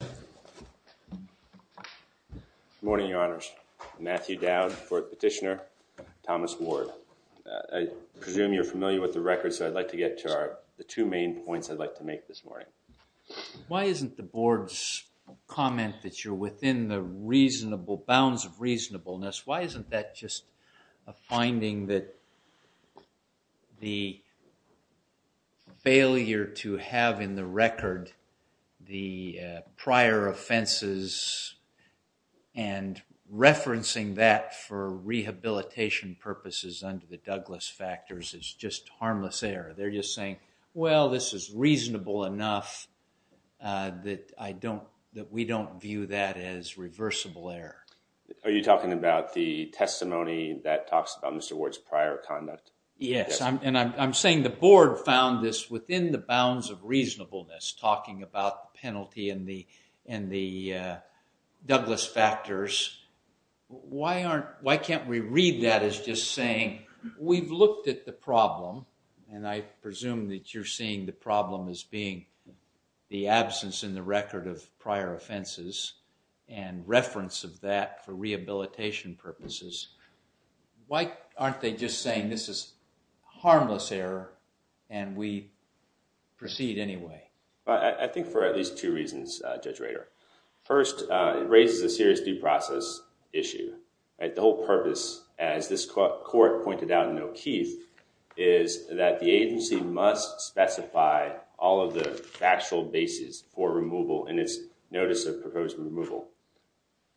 Good morning, Your Honors. Matthew Dowd, Fourth Petitioner, Thomas Ward. I presume you're familiar with the record, so I'd like to get to the two main points I'd like to make this morning. Why isn't the Board's comment that you're within the bounds of reasonableness, why isn't that just a finding that the failure to have in the record the prior offenses and referencing that for rehabilitation purposes under the Douglas factors is just harmless error. They're just saying, well, this is reasonable enough that I don't, that we don't view that as reversible error. Are you talking about the testimony that talks about Mr. Ward's prior conduct? Yes, and I'm saying the Board found this within the bounds of reasonableness, talking about penalty and the Douglas factors. Why can't we read that as just saying, we've looked at the problem, and I presume that you're seeing the problem as being the absence in the record of prior offenses and reference of that for rehabilitation purposes. Why aren't they just saying this is harmless error, and we proceed anyway? I think for at least two reasons, Judge Rader. First, it raises a serious due process issue. The whole purpose, as this court pointed out in O'Keefe, is that the agency must specify all of the factual basis for removal in its notice of proposed removal.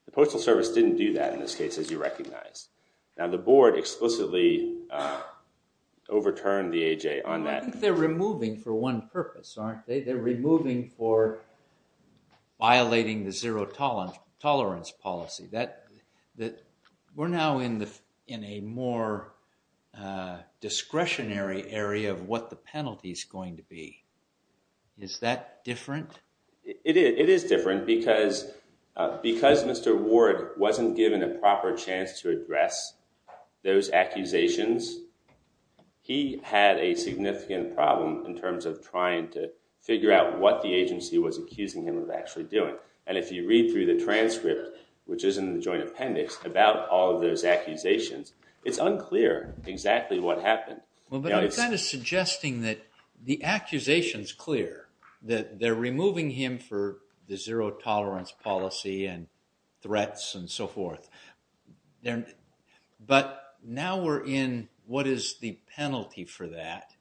The Postal Service didn't do that in this case, as you recognize. Now, the Board explicitly overturned the AHA on that. I think they're removing for one purpose, aren't they? They're removing for violating the zero tolerance policy. We're now in a more discretionary area of what the penalty is going to be. Is that different? It is different, because Mr. Ward wasn't given a proper chance to address those accusations. He had a significant problem in terms of trying to figure out what the agency was accusing him of actually doing. If you read through the transcript, which is in the joint appendix, about all of those accusations, it's unclear exactly what happened. But that is suggesting that the accusation is clear, that they're removing him for the zero tolerance policy and threats and so forth. But now we're in what is the penalty for that.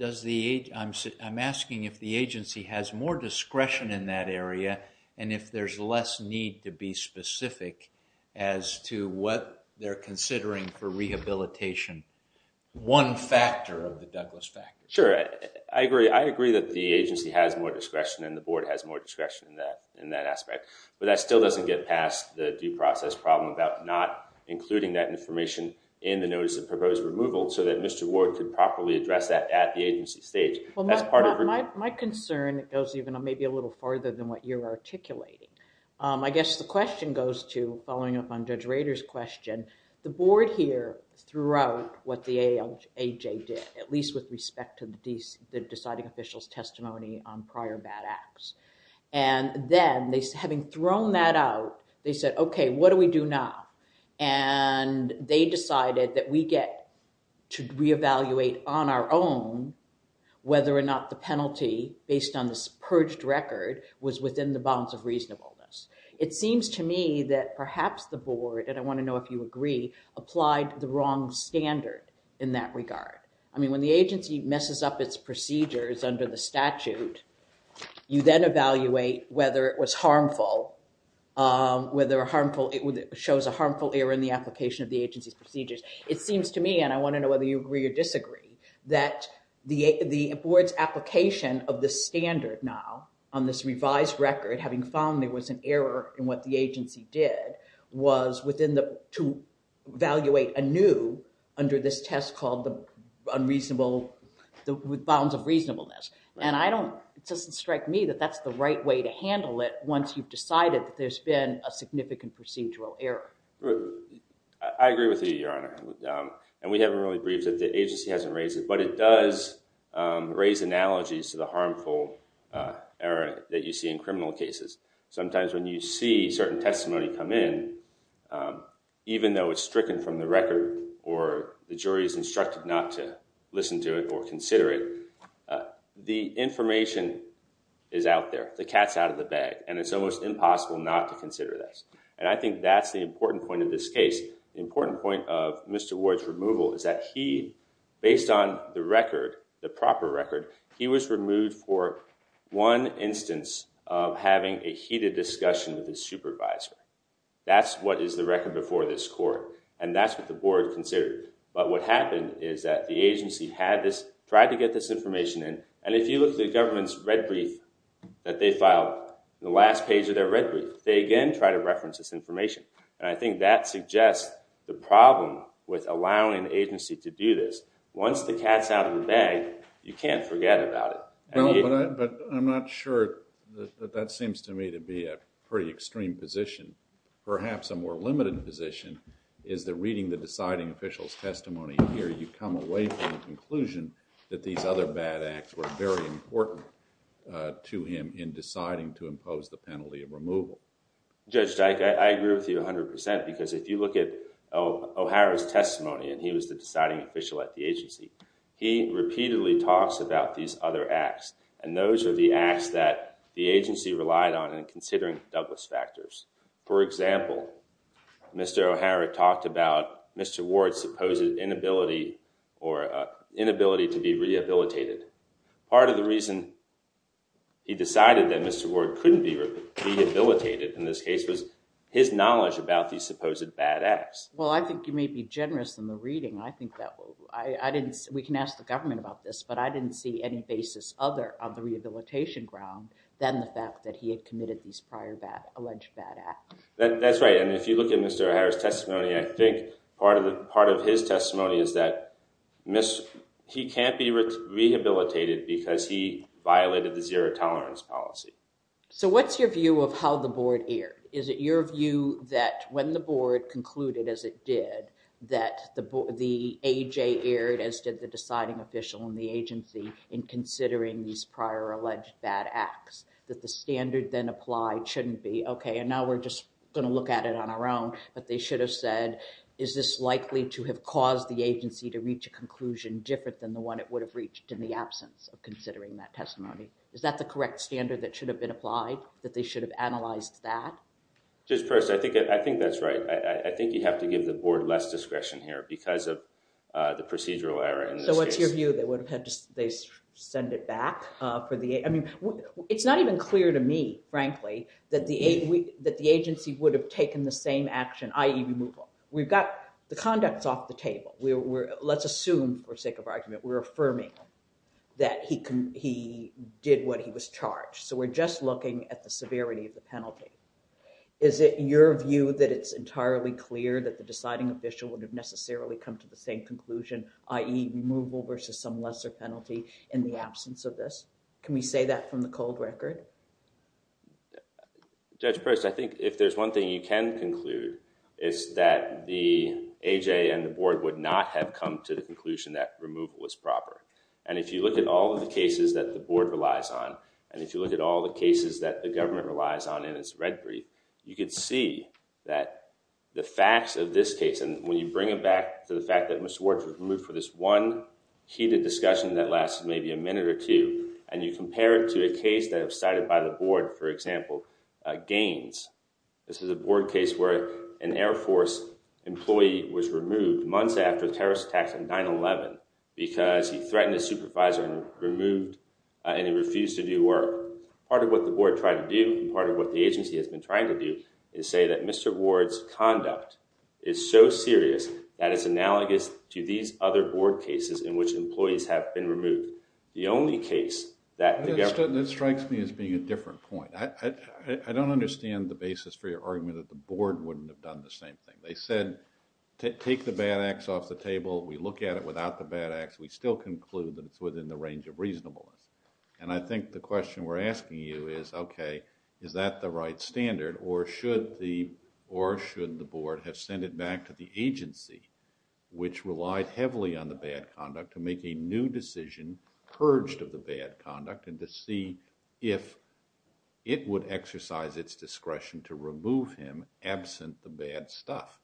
I'm asking if the agency has more discretion in that area, and if there's less need to be specific as to what they're considering for rehabilitation. One factor of the Douglas factor. Sure, I agree. I agree that the agency has more discretion and the Board has more discretion in that aspect. But that still doesn't get past the due process problem about not including that information in the notice of proposed removal, so that Mr. Ward could properly address that at the agency stage. My concern goes even maybe a little farther than what you're articulating. I guess the question goes to, following up on Judge Rader's question, the Board here threw out what the AHA did, at least with respect to the deciding official's testimony on prior bad acts. Then, having thrown that out, they said, okay, what do we do now? They decided that we get to whether or not the penalty, based on this purged record, was within the bounds of reasonableness. It seems to me that perhaps the Board, and I want to know if you agree, applied the wrong standard in that regard. When the agency messes up its procedures under the statute, you then evaluate whether it was harmful, whether it shows a harmful error in the application of the agency's procedures. It seems to me, and I want to know whether you agree or disagree, that the Board's application of the standard now, on this revised record, having found there was an error in what the agency did, was to evaluate anew under this test called the bounds of reasonableness. It doesn't strike me that that's the right way to handle it once you've decided that there's been a significant procedural error. I agree with you, Your Honor. We haven't really briefed that the agency hasn't raised it, but it does raise analogies to the harmful error that you see in criminal cases. Sometimes when you see certain testimony come in, even though it's stricken from the record or the jury is instructed not to listen to it or consider it, the information is out there, the cat's out of the bag, and it's almost impossible not to consider this. I think that's the important point of this case. The important point of Mr. Ward's removal is that he, based on the record, the proper record, he was removed for one instance of having a heated discussion with his supervisor. That's what is the record before this Court, and that's what the Board considered. But what happened is that the agency had this, tried to get this information in, and if you look at the government's red brief that they filed, the last page of their red brief, they had this information. And I think that suggests the problem with allowing the agency to do this. Once the cat's out of the bag, you can't forget about it. No, but I'm not sure that that seems to me to be a pretty extreme position. Perhaps a more limited position is that reading the deciding official's testimony here, you come away from the conclusion that these other bad acts were very important to him in deciding to impose the penalty of removal. Judge Dyke, I agree with you 100% because if you look at O'Hara's testimony, and he was the deciding official at the agency, he repeatedly talks about these other acts, and those are the acts that the agency relied on in considering Douglas factors. For example, Mr. O'Hara talked about Mr. Ward's supposed inability to be rehabilitated. Part of the reason he decided that Mr. Ward couldn't be rehabilitated in this case was his knowledge about these supposed bad acts. Well, I think you may be generous in the reading. I think that we can ask the government about this, but I didn't see any basis other on the rehabilitation ground than the fact that he had committed these prior alleged bad acts. That's right, and if you look at Mr. O'Hara's testimony, I think part of his testimony is that he can't be rehabilitated because he violated the zero-tolerance policy. So what's your view of how the board erred? Is it your view that when the board concluded, as it did, that the AJ erred, as did the deciding official in the agency, in considering these prior alleged bad acts, that the standard then applied shouldn't be, okay, and now we're just going to look at it on our own, but they should have said, is this likely to have caused the agency to reach a conclusion different than the one it would have reached in the absence of considering that testimony? Is that the correct standard that should have been applied, that they should have analyzed that? Just first, I think that's right. I think you have to give the board less discretion here because of the procedural error in this case. So what's your view? They would have had to send it back for the... I mean, it's not even clear to me, frankly, that the agency would have taken the same action, i.e. removal. We've got the conducts off the table. Let's assume, for sake of argument, we're affirming that he did what he was charged. So we're just looking at the severity of the penalty. Is it your view that it's entirely clear that the deciding official would have necessarily come to the same conclusion, i.e. removal versus some lesser penalty in the absence of this? Can we say that from the cold record? Judge Preston, I think if there's one thing you can conclude, it's that the A.J. and the board would not have come to the conclusion that removal is proper. And if you look at all of the cases that the board relies on, and if you look at all the cases that the government relies on in its red brief, you can see that the facts of this case, and when you bring it back to the fact that Mr. Warts was removed for this one heated discussion that lasted maybe a minute or two, and you compare it to a case that was cited by the board, for example, Gaines. This is a board case where an Air Force employee was removed months after the terrorist attacks on 9-11 because he threatened his supervisor and refused to do work. Part of what the board tried to do, and part of what the agency has been trying to do, is say that Mr. Warts' conduct is so serious that it's analogous to these other board cases in which employees have been removed. The only case that the government... That strikes me as being a different point. I don't understand the basis for your argument that the board wouldn't have done the same thing. They said, take the bad acts off the table, we look at it without the bad acts, we still conclude that it's within the range of reasonableness. And I think the question we're asking you is, okay, is that the right standard or should the board have sent it back to the agency, which relied heavily on the bad conduct, to make a new decision, purged of the bad conduct, and to see if it would exercise its discretion to remove him absent the bad stuff?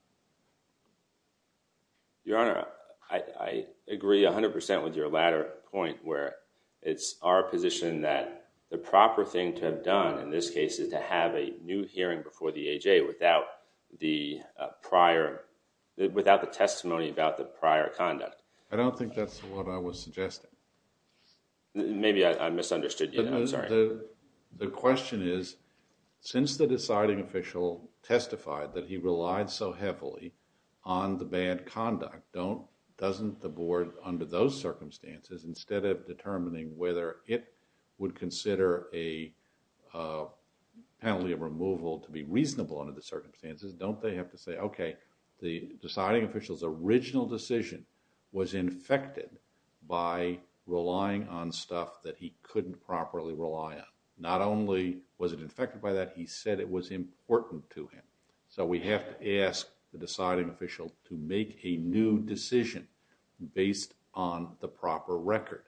Your Honor, I agree 100% with your latter point where it's our position that the proper thing to have done in this case is to have a new hearing before the A.J. without the testimony about the prior conduct. I don't think that's what I was suggesting. Maybe I misunderstood you. I'm sorry. The question is, since the deciding official testified that he relied so heavily on the bad conduct, doesn't the board under those circumstances, instead of determining whether it would consider a penalty of removal to be reasonable under the circumstances, don't they have to say, okay, the deciding official's original decision was infected by relying on stuff that he couldn't properly rely on? Not only was it infected by that, he said it was important to him. So, we have to ask the deciding official to make a new decision based on the proper record.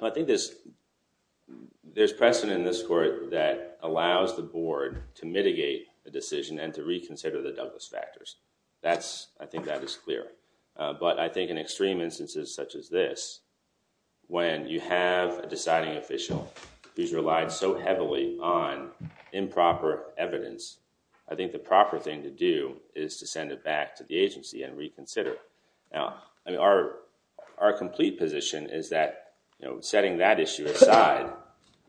I think there's precedent in this court that allows the board to mitigate the decision and to reconsider the Douglas factors. I think that is clear. But I think in extreme instances such as this, when you have a deciding official who's relied so heavily on improper evidence, I think the proper thing to do is to send it back to the agency and reconsider. Our complete position is that setting that issue aside,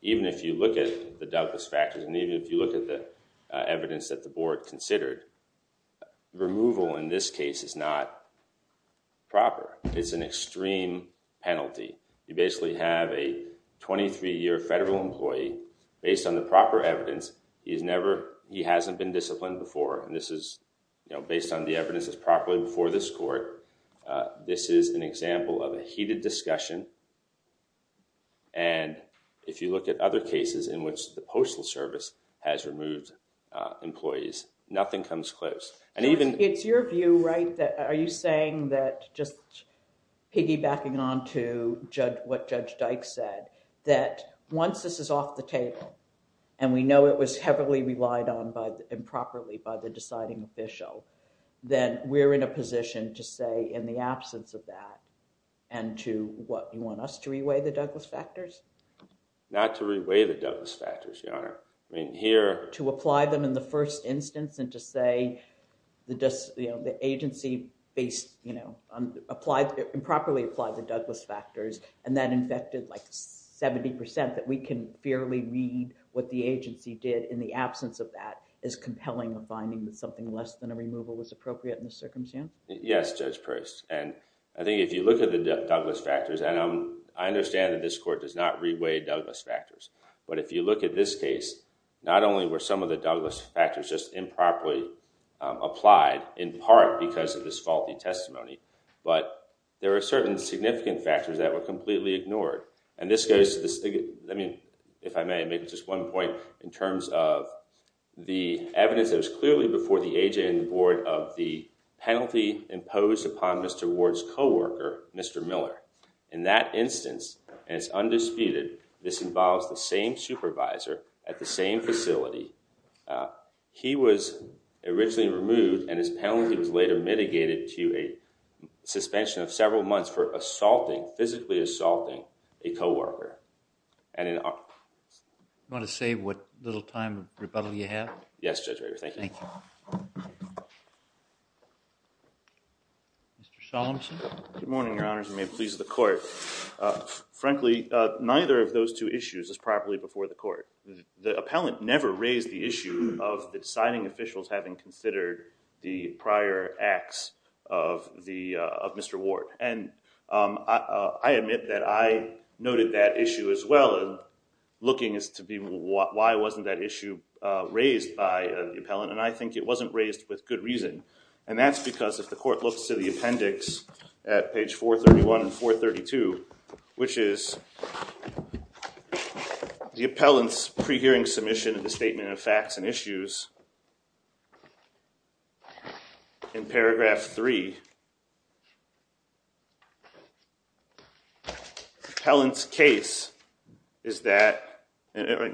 even if you look at the Douglas factors and even if you look at the evidence that the board considered, removal in this case is not proper. It's an extreme penalty. You basically have a 23-year federal employee based on the proper evidence. He hasn't been disciplined before. This is based on the evidence that's properly before this court. This is an example of a heated discussion. If you look at other cases in which the Postal Service has removed employees, nothing comes close. It's your view, right? Are you saying that, just piggybacking on to what Judge Dyke said, that once this is off the table and we know it was heavily relied on improperly by the deciding official, then we're in a position to say, in the absence of that, and to what? You want us to reweigh the Douglas factors? Not to reweigh the Douglas factors, Your Honor. To apply them in the first instance and to say the agency improperly applied the Douglas factors and that infected 70% that we can barely read what the agency did in the absence of that is compelling to finding that something less than a removal is appropriate in this circumstance? Yes, Judge Pearce. I think if you look at the Douglas factors, and I understand that this court does not reweigh Douglas factors, but if you look at this case, not only were some of the Douglas factors just improperly reweighed, but there are certain significant factors that were completely ignored. And this goes, if I may, maybe just one point in terms of the evidence that was clearly before the agent and the board of the penalty imposed upon Mr. Ward's coworker, Mr. Miller. In that instance, and it's undisputed, this involves the same supervisor at the same facility. He was originally removed and his penalty was later mitigated to a suspension of several months for assaulting, physically assaulting, a coworker. You want to say what little time of rebuttal you have? Yes, Judge Rager. Thank you. Mr. Solemson? Good morning, Your Honors. May it please the court. Frankly, neither of those two issues is properly before the court. The appellant never raised the issue of the signing officials having considered the prior acts of Mr. Ward. And I admit that I noted that issue as well, looking as to why wasn't that issue raised by the appellant, and I think it wasn't raised with good reason. And that's because if the court looks to the appendix at page 431 and 432, which is the appellant's pre-hearing submission of the statement of facts and issues, in paragraph 3, the appellant's case in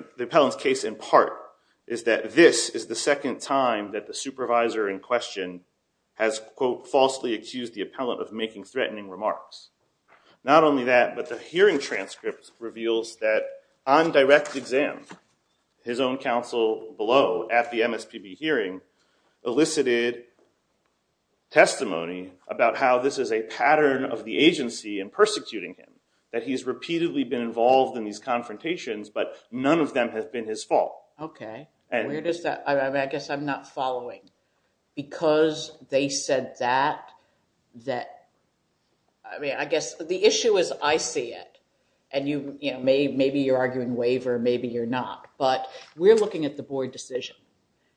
part is that this is the second time that the supervisor in question has, quote, falsely accused the appellant of making threatening remarks. Not only that, but the hearing transcript reveals that on direct exam, his own counsel below at the MSPB hearing elicited testimony about how this is a pattern of the agency in persecuting him, that he's repeatedly been involved in these confrontations, but none of them have been his fault. Okay. Where does that—I guess I'm not following. Because they said that, that—I mean, I guess the issue is I see it, and maybe you're arguing waiver, maybe you're not, but we're looking at the board decision,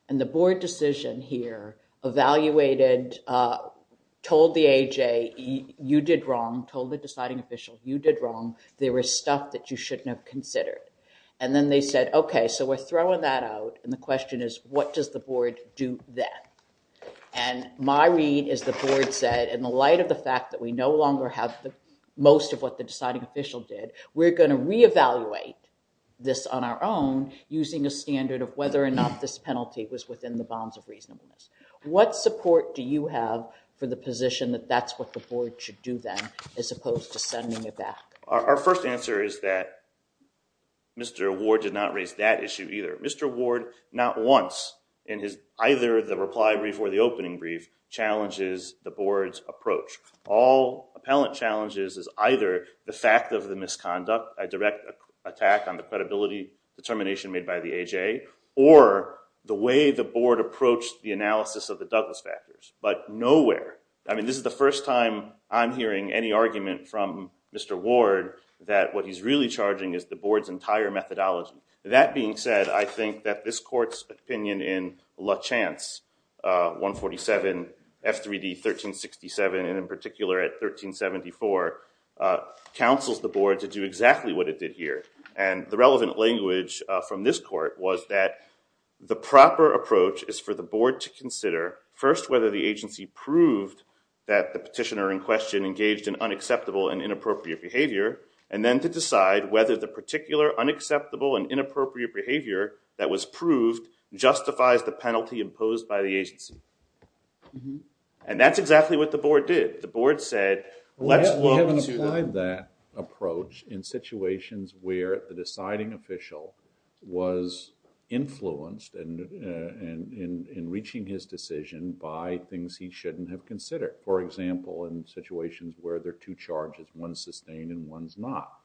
and the board decision here evaluated, told the AJ, you did wrong, told the deciding official, you did wrong, there was stuff that you shouldn't have considered. And then they said, okay, so we're throwing that out, and the question is, what does the board do then? And my read is the board said, in the light of the fact that we no longer have most of what the deciding official did, we're going to reevaluate this on our own using a standard of whether or not this penalty was within the bounds of reasonableness. What support do you have for the position that that's what the board should do then as opposed to sending it back? Our first answer is that Mr. Ward did not raise that issue either. Mr. Ward not once in either the reply brief or the opening brief challenges the board's approach. All appellant challenges is either the fact of the misconduct, a direct attack on the credibility determination made by the AJ, or the way the board approached the analysis of the Douglas factors. But nowhere—I mean, this is the first time I'm hearing any argument from Mr. Ward that what he's really charging is the board's entire methodology. That being said, I think that this court's opinion in La Chance 147 F3D 1367, and in particular at 1374, counsels the board to do exactly what it did here. And the relevant language from this court was that the proper approach is for the board to consider first whether the agency proved that the petitioner in question engaged in unacceptable and inappropriate behavior, and then to decide whether the particular unacceptable and inappropriate behavior that was proved justifies the penalty imposed by the agency. And that's exactly what the board did. The board said, let's look to— We haven't applied that approach in situations where the deciding official was influenced and in reaching his decision by things he shouldn't have considered. For example, in situations where there are two charges, one's sustained and one's not.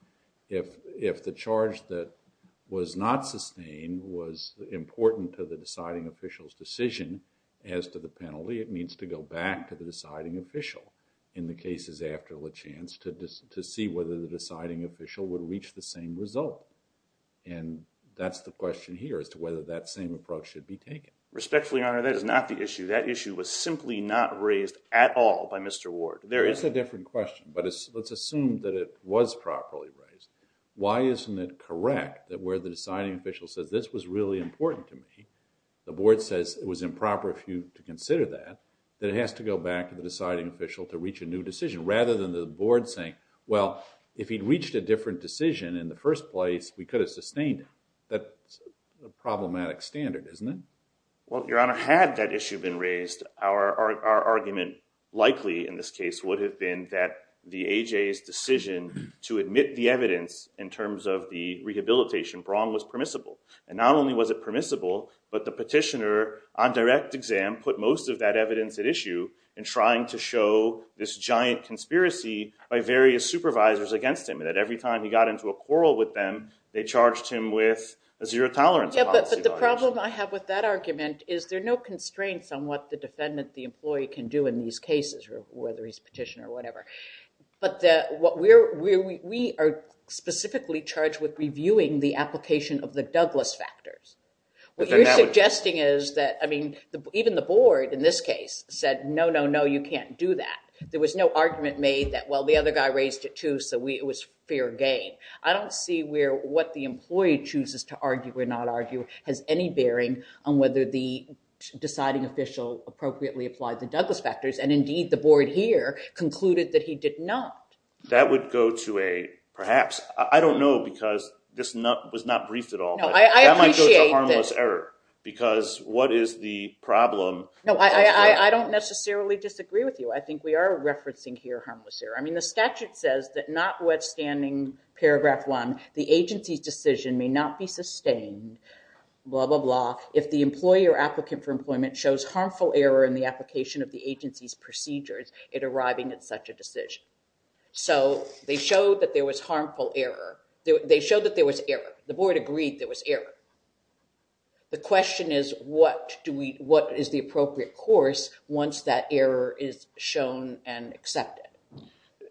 If the charge that was not sustained was important to the deciding official's decision as to the penalty, it means to go back to the deciding official in the cases after La Chance to see whether the deciding official would reach the same result. And that's the question here as to whether that same approach should be taken. Respectfully, Your Honor, that is not the issue. That issue was simply not raised at all by Mr. Ward. There is a different question, but let's assume that it was properly raised. Why isn't it correct that where the deciding official says, this was really important to me, the board says it was improper of you to consider that, that it has to go back to the deciding official to reach a new decision, rather than the board saying, well, if he'd reached a different decision in the first place, we could have sustained it. That's a problematic standard, isn't it? Well, Your Honor, had that issue been raised, our argument likely in this case would have been that the AJA's decision to admit the evidence in terms of the rehabilitation wrong was permissible. And not only was it permissible, but the petitioner on direct exam put most of that evidence at issue in trying to show this giant conspiracy by various supervisors against him, that every time he got into a quarrel with them, they charged him with a zero-tolerance policy charge. But the problem I have with that argument is there are no constraints on what the defendant, the employee, can do in these cases, whether he's a petitioner or whatever. But we are specifically charged with reviewing the application of the Douglas factors. What you're suggesting is that, I mean, even the board, in this case, said, no, no, no, you can't do that. There was no argument made that, well, the other guy raised it too, so it was fair game. I don't see where what the employee chooses to argue or not argue has any bearing on whether the deciding official appropriately applied the Douglas factors. And indeed, the board here concluded that he did not. That would go to a, perhaps, I don't know because this was not briefed at all. No, I appreciate that. That might go to harmless error, because what is the problem? No, I don't necessarily disagree with you. I think we are referencing here harmless error. I mean, the statute says that notwithstanding paragraph one, the agency's decision may not be sustained, blah, blah, blah, if the employee or applicant for employment shows harmful error in the application of the agency's procedures in arriving at such a decision. So they showed that there was harmful error. They showed that there was error. The board agreed there was error. The question is, what is the appropriate course once that error is shown and accepted?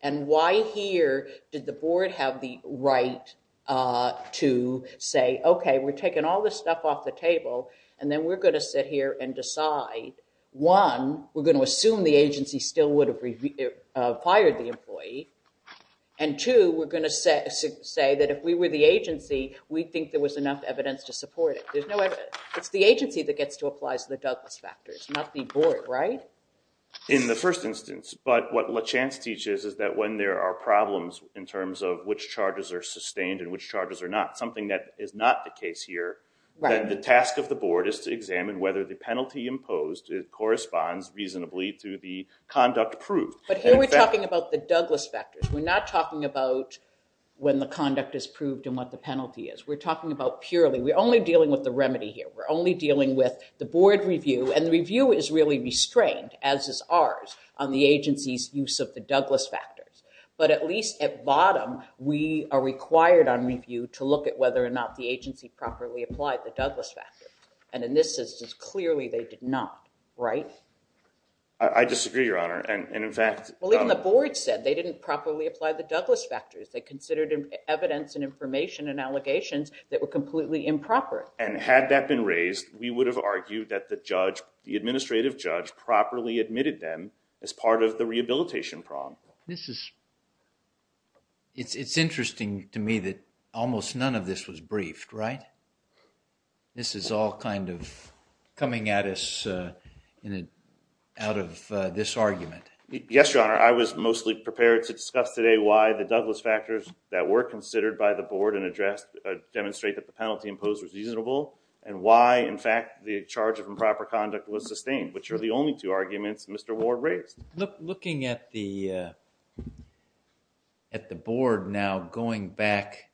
And why here did the board have the right to say, okay, we're taking all this stuff off the table, and then we're going to sit here and decide, one, we're going to assume the agency still would have fired the employee, and two, we're going to say that if we were the agency, we think there was enough evidence to support it. It's the agency that gets to apply the Douglas factors, not the board, right? In the first instance. But what Lachance teaches is that when there are problems in terms of which charges are sustained and which charges are not, something that is not the case here, then the task of the board is to examine whether the penalty imposed corresponds reasonably to the conduct proved. But here we're talking about the Douglas factors. We're not talking about when the conduct is proved and what the penalty is. We're talking about purely, we're only dealing with the remedy here. We're only dealing with the board review, and the review is really restrained, as is ours, on the agency's use of the Douglas factors. But at least at bottom, we are required on review to look at whether or not the agency properly applied the Douglas factors. And in this instance, clearly they did not, right? I disagree, Your Honor. And in fact- Well, even the board said they didn't properly apply the Douglas factors. They considered evidence and information and allegations that were completely improper. And had that been raised, we would have argued that the judge, the administrative judge, properly admitted them as part of the rehabilitation problem. This is, it's interesting to me that almost none of this was briefed, right? This is all kind of coming at us in a, out of this argument. Yes, Your Honor. I was mostly prepared to discuss today why the Douglas factors that were considered by the board and addressed demonstrate that the penalty imposed was reasonable, and why in fact the charge of improper conduct was sustained, which are the only two arguments Mr. Ward raised. Looking at the board now going back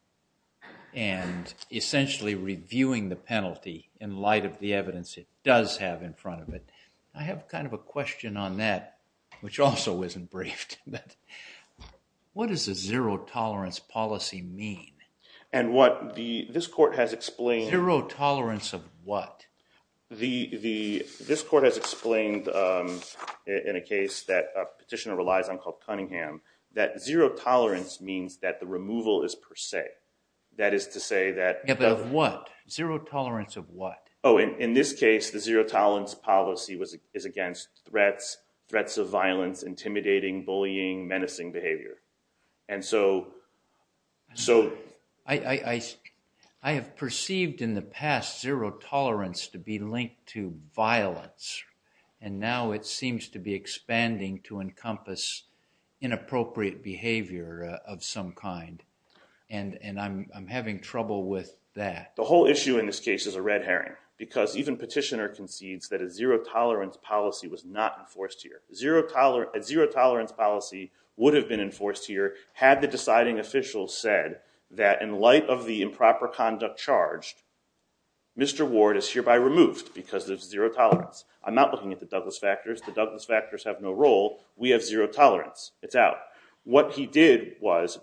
and essentially reviewing the penalty in light of the evidence it does have in front of it, I have kind of a question on that, which also isn't briefed. What does a zero tolerance policy mean? And what the, this court has explained- Zero tolerance of what? The, this court has explained in a case that a petitioner relies on called Cunningham, that zero tolerance means that the removal is per se. That is to say that- Yeah, but of what? Zero tolerance of what? Oh, in this case the zero tolerance policy is against threats, threats of violence, intimidating, bullying, menacing behavior. And so- I have perceived in the past zero tolerance to be linked to violence, and now it seems to be expanding to encompass inappropriate behavior of some kind, and I'm having trouble with that. The whole issue in this case is a red herring, because even petitioner concedes that a zero tolerance policy was not enforced here. A zero tolerance policy would have been enforced here had the deciding official said that in light of the improper conduct charged, Mr. Ward is hereby removed because there's zero tolerance. I'm not looking at the Douglas factors, the Douglas factors have no role, we have zero tolerance, it's out. What he did was,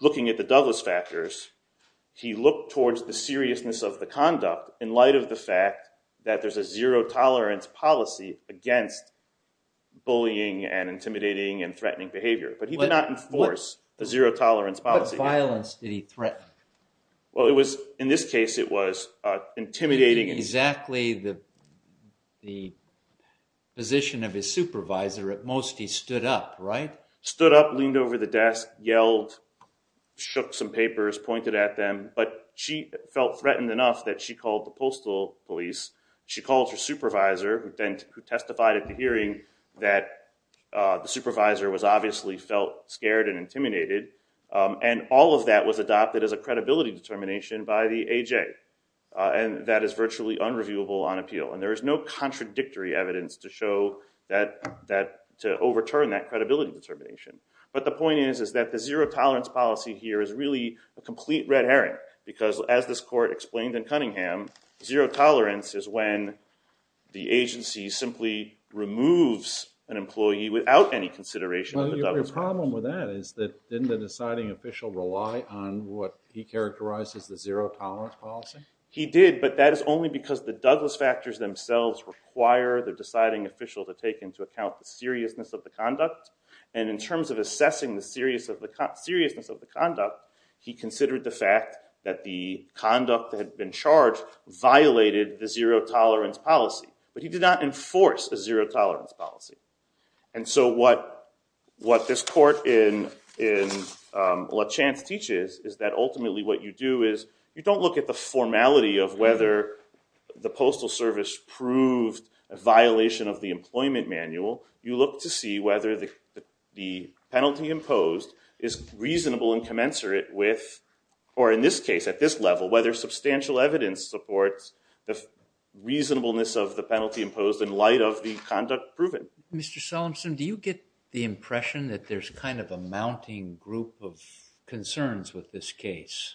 looking at the Douglas factors, he looked towards the seriousness of the conduct in light of the fact that there's a zero tolerance policy against bullying and intimidating and threatening behavior. But he did not enforce a zero tolerance policy. What kind of violence did he threaten? Well it was, in this case it was intimidating- Exactly the position of his supervisor, at most he stood up, right? Stood up, leaned over the desk, yelled, shook some papers, pointed at them. But she felt threatened enough that she called the postal police. She called her supervisor, who testified at the hearing that the supervisor was obviously felt scared and intimidated. And all of that was adopted as a credibility determination by the AJ. And that is virtually unreviewable on appeal. And there is no contradictory evidence to show that, to overturn that credibility determination. But the point is, is that the zero tolerance policy here is really a complete red herring. Because as this court explained in Cunningham, zero tolerance is when the agency simply removes an employee without any consideration of the Douglas factor. Well, your problem with that is that didn't the deciding official rely on what he characterized as the zero tolerance policy? He did, but that is only because the Douglas factors themselves require the deciding official to take into account the seriousness of the conduct. And in terms of assessing the seriousness of the conduct, he considered the fact that the conduct that had been charged violated the zero tolerance policy. But he did not enforce a zero tolerance policy. And so what this court in La Chance teaches is that ultimately what you do is, you don't look at the formality of whether the postal service proved a violation of the employment manual. You look to see whether the penalty imposed is reasonable and commensurate with, or in this case, at this level, whether substantial evidence supports the reasonableness of the penalty imposed in light of the conduct proven. Mr. Solemson, do you get the impression that there's kind of a mounting group of concerns with this case?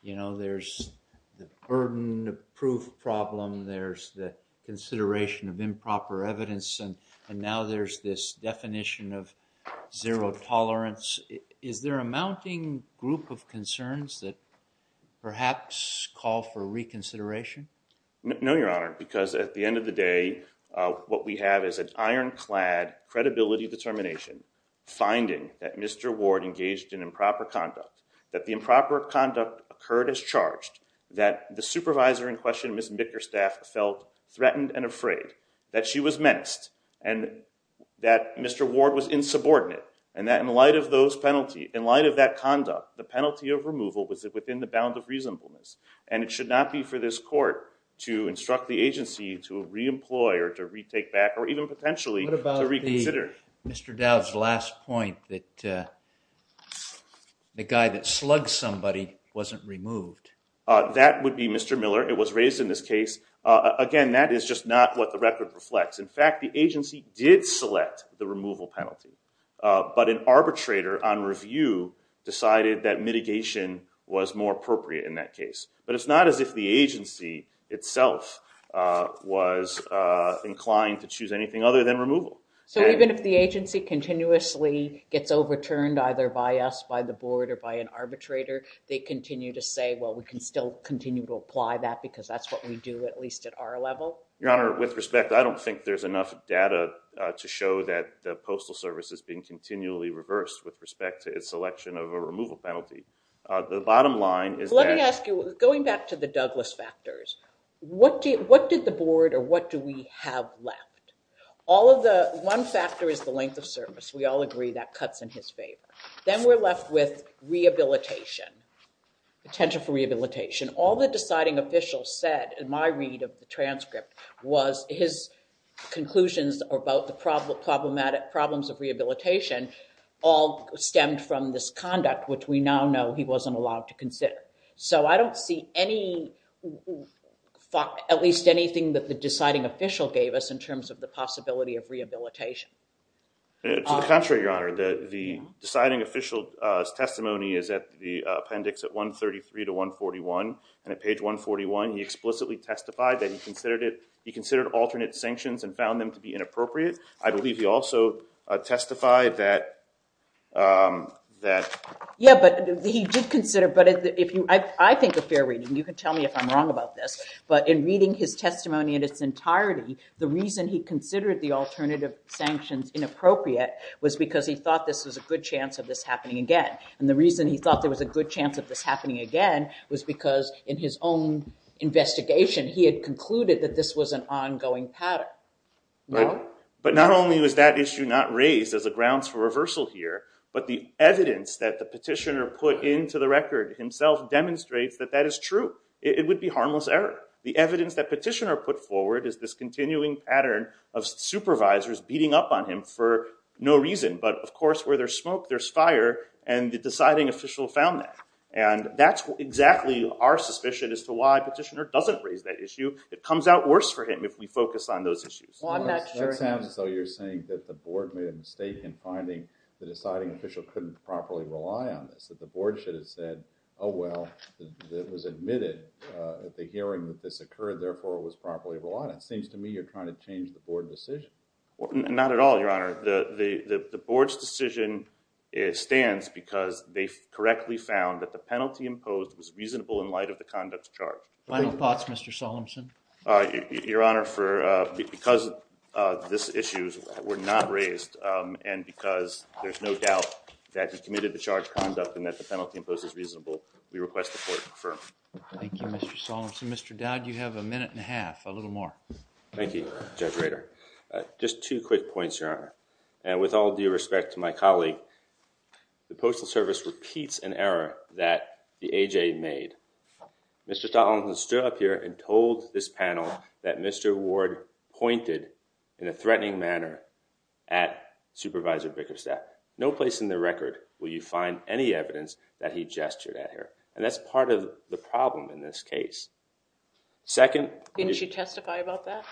You know, there's the burden of proof problem, there's the consideration of improper evidence, and now there's this definition of zero tolerance. Is there a mounting group of concerns that perhaps call for reconsideration? No, Your Honor, because at the end of the day, what we have is an ironclad credibility determination finding that Mr. Ward engaged in improper conduct, that the improper conduct occurred as charged, that the supervisor in question, Ms. Bickerstaff, felt threatened and afraid, that she was menaced, and that Mr. Ward was insubordinate, and that in light of those penalty, in light of that conduct, the penalty of removal was within the bound of reasonableness. And it should not be for this court to instruct the agency to re-employ or to re-take back or even potentially to reconsider. What about Mr. Dowd's last point that the guy that slugged somebody wasn't removed? That would be Mr. Miller. It was raised in this case. Again, that is just not what the record reflects. In fact, the agency did select the removal penalty, but an arbitrator on review decided that mitigation was more appropriate in that case. But it's not as if the agency itself was inclined to choose anything other than removal. So even if the agency continuously gets overturned either by us, by the board, or by an arbitrator, they continue to say, well, we can still continue to apply that because that's what we do at least at our level? Your Honor, with respect, I don't think there's enough data to show that the Postal Service is being continually reversed with respect to its selection of a removal penalty. The bottom line is that- Let me ask you, going back to the Douglas factors, what did the board or what do we have left? All of the, one factor is the length of service. We all agree that cuts in his favor. Then we're left with rehabilitation, potential for rehabilitation. All the deciding official said in my read of the transcript was his conclusions about the problems of rehabilitation all stemmed from this conduct, which we now know he wasn't allowed to consider. So I don't see any, at least anything that the deciding official gave us in terms of the possibility of rehabilitation. To the contrary, Your Honor. The deciding official's testimony is at the appendix at 133 to 141, and at page 141 he explicitly testified that he considered it, he considered alternate sanctions and found them to be inappropriate. I believe he also testified that, that- Yeah, but he did consider, but if you, I think a fair reading, you can tell me if I'm wrong about this, but in reading his testimony in its entirety, the reason he considered the alternate sanctions inappropriate was because he thought this was a good chance of this happening again. And the reason he thought there was a good chance of this happening again was because in his own investigation, he had concluded that this was an ongoing pattern. But not only was that issue not raised as a grounds for reversal here, but the evidence that the petitioner put into the record himself demonstrates that that is true. It would be harmless error. The evidence that petitioner put forward is this continuing pattern of supervisors beating up on him for no reason. But of course, where there's smoke, there's fire, and the deciding official found that. And that's exactly our suspicion as to why petitioner doesn't raise that issue. It comes out worse for him if we focus on those issues. Well, I'm not sure- That sounds as though you're saying that the board made a mistake in finding the deciding official couldn't properly rely on this, that the board should have said, oh well, it was admitted at the hearing that this occurred, therefore it was properly relied on. It seems to me you're trying to change the board decision. Not at all, Your Honor. The board's decision stands because they correctly found that the penalty imposed was reasonable in light of the conduct chart. Final thoughts, Mr. Solemson? Your Honor, because these issues were not raised, and because there's no doubt that he committed the charged conduct and that the penalty imposed is reasonable, we request the court confirm. Thank you, Mr. Solemson. Mr. Dowd, you have a minute and a half, a little more. Thank you, Judge Rader. Just two quick points, Your Honor. And with all due respect to my colleague, the Postal Service repeats an error that the A.J. made. Mr. Solemson stood up here and told this panel that Mr. Ward pointed in a threatening manner at Supervisor Bickerstadt. No place in the record will you find any evidence that he gestured at her, and that's part of the problem in this case. Second- Didn't she testify about that?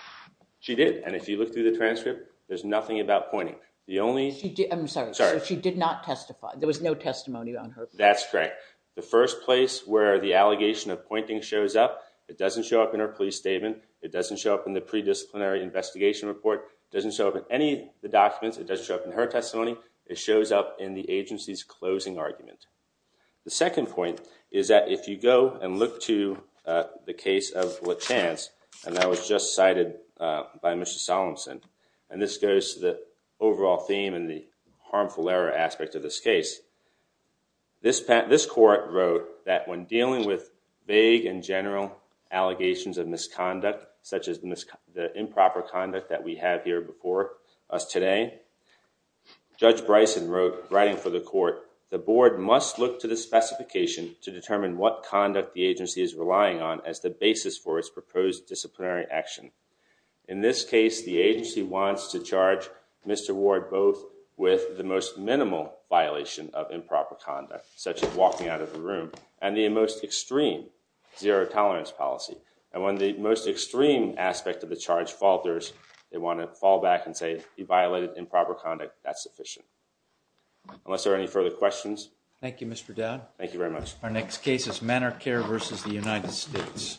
She did, and if you look through the transcript, there's nothing about pointing. The only- I'm sorry. Sorry. She did not testify. There was no testimony on her- That's correct. The first place where the allegation of pointing shows up, it doesn't show up in her police statement, it doesn't show up in the pre-disciplinary investigation report, it doesn't show up in any of the documents, it doesn't show up in her testimony, it shows up in the agency's closing argument. The second point is that if you go and look to the case of Lachance, and that was just cited by Mr. Solemson, and this goes to the overall theme and the harmful error aspect of this case. This court wrote that when dealing with vague and general allegations of misconduct, such as the improper conduct that we have here before us today, Judge Bryson wrote, writing for the court, the board must look to the specification to determine what conduct the agency is relying on as the basis for its proposed disciplinary action. In this case, the agency wants to charge Mr. Ward both with the most minimal violation of improper conduct, such as walking out of the room, and the most extreme, zero-tolerance policy. And when the most extreme aspect of the charge falters, they want to fall back and say, you violated improper conduct, that's sufficient. Unless there are any further questions. Thank you, Mr. Dowd. Thank you very much. Our next case is Manor Care v. The United States.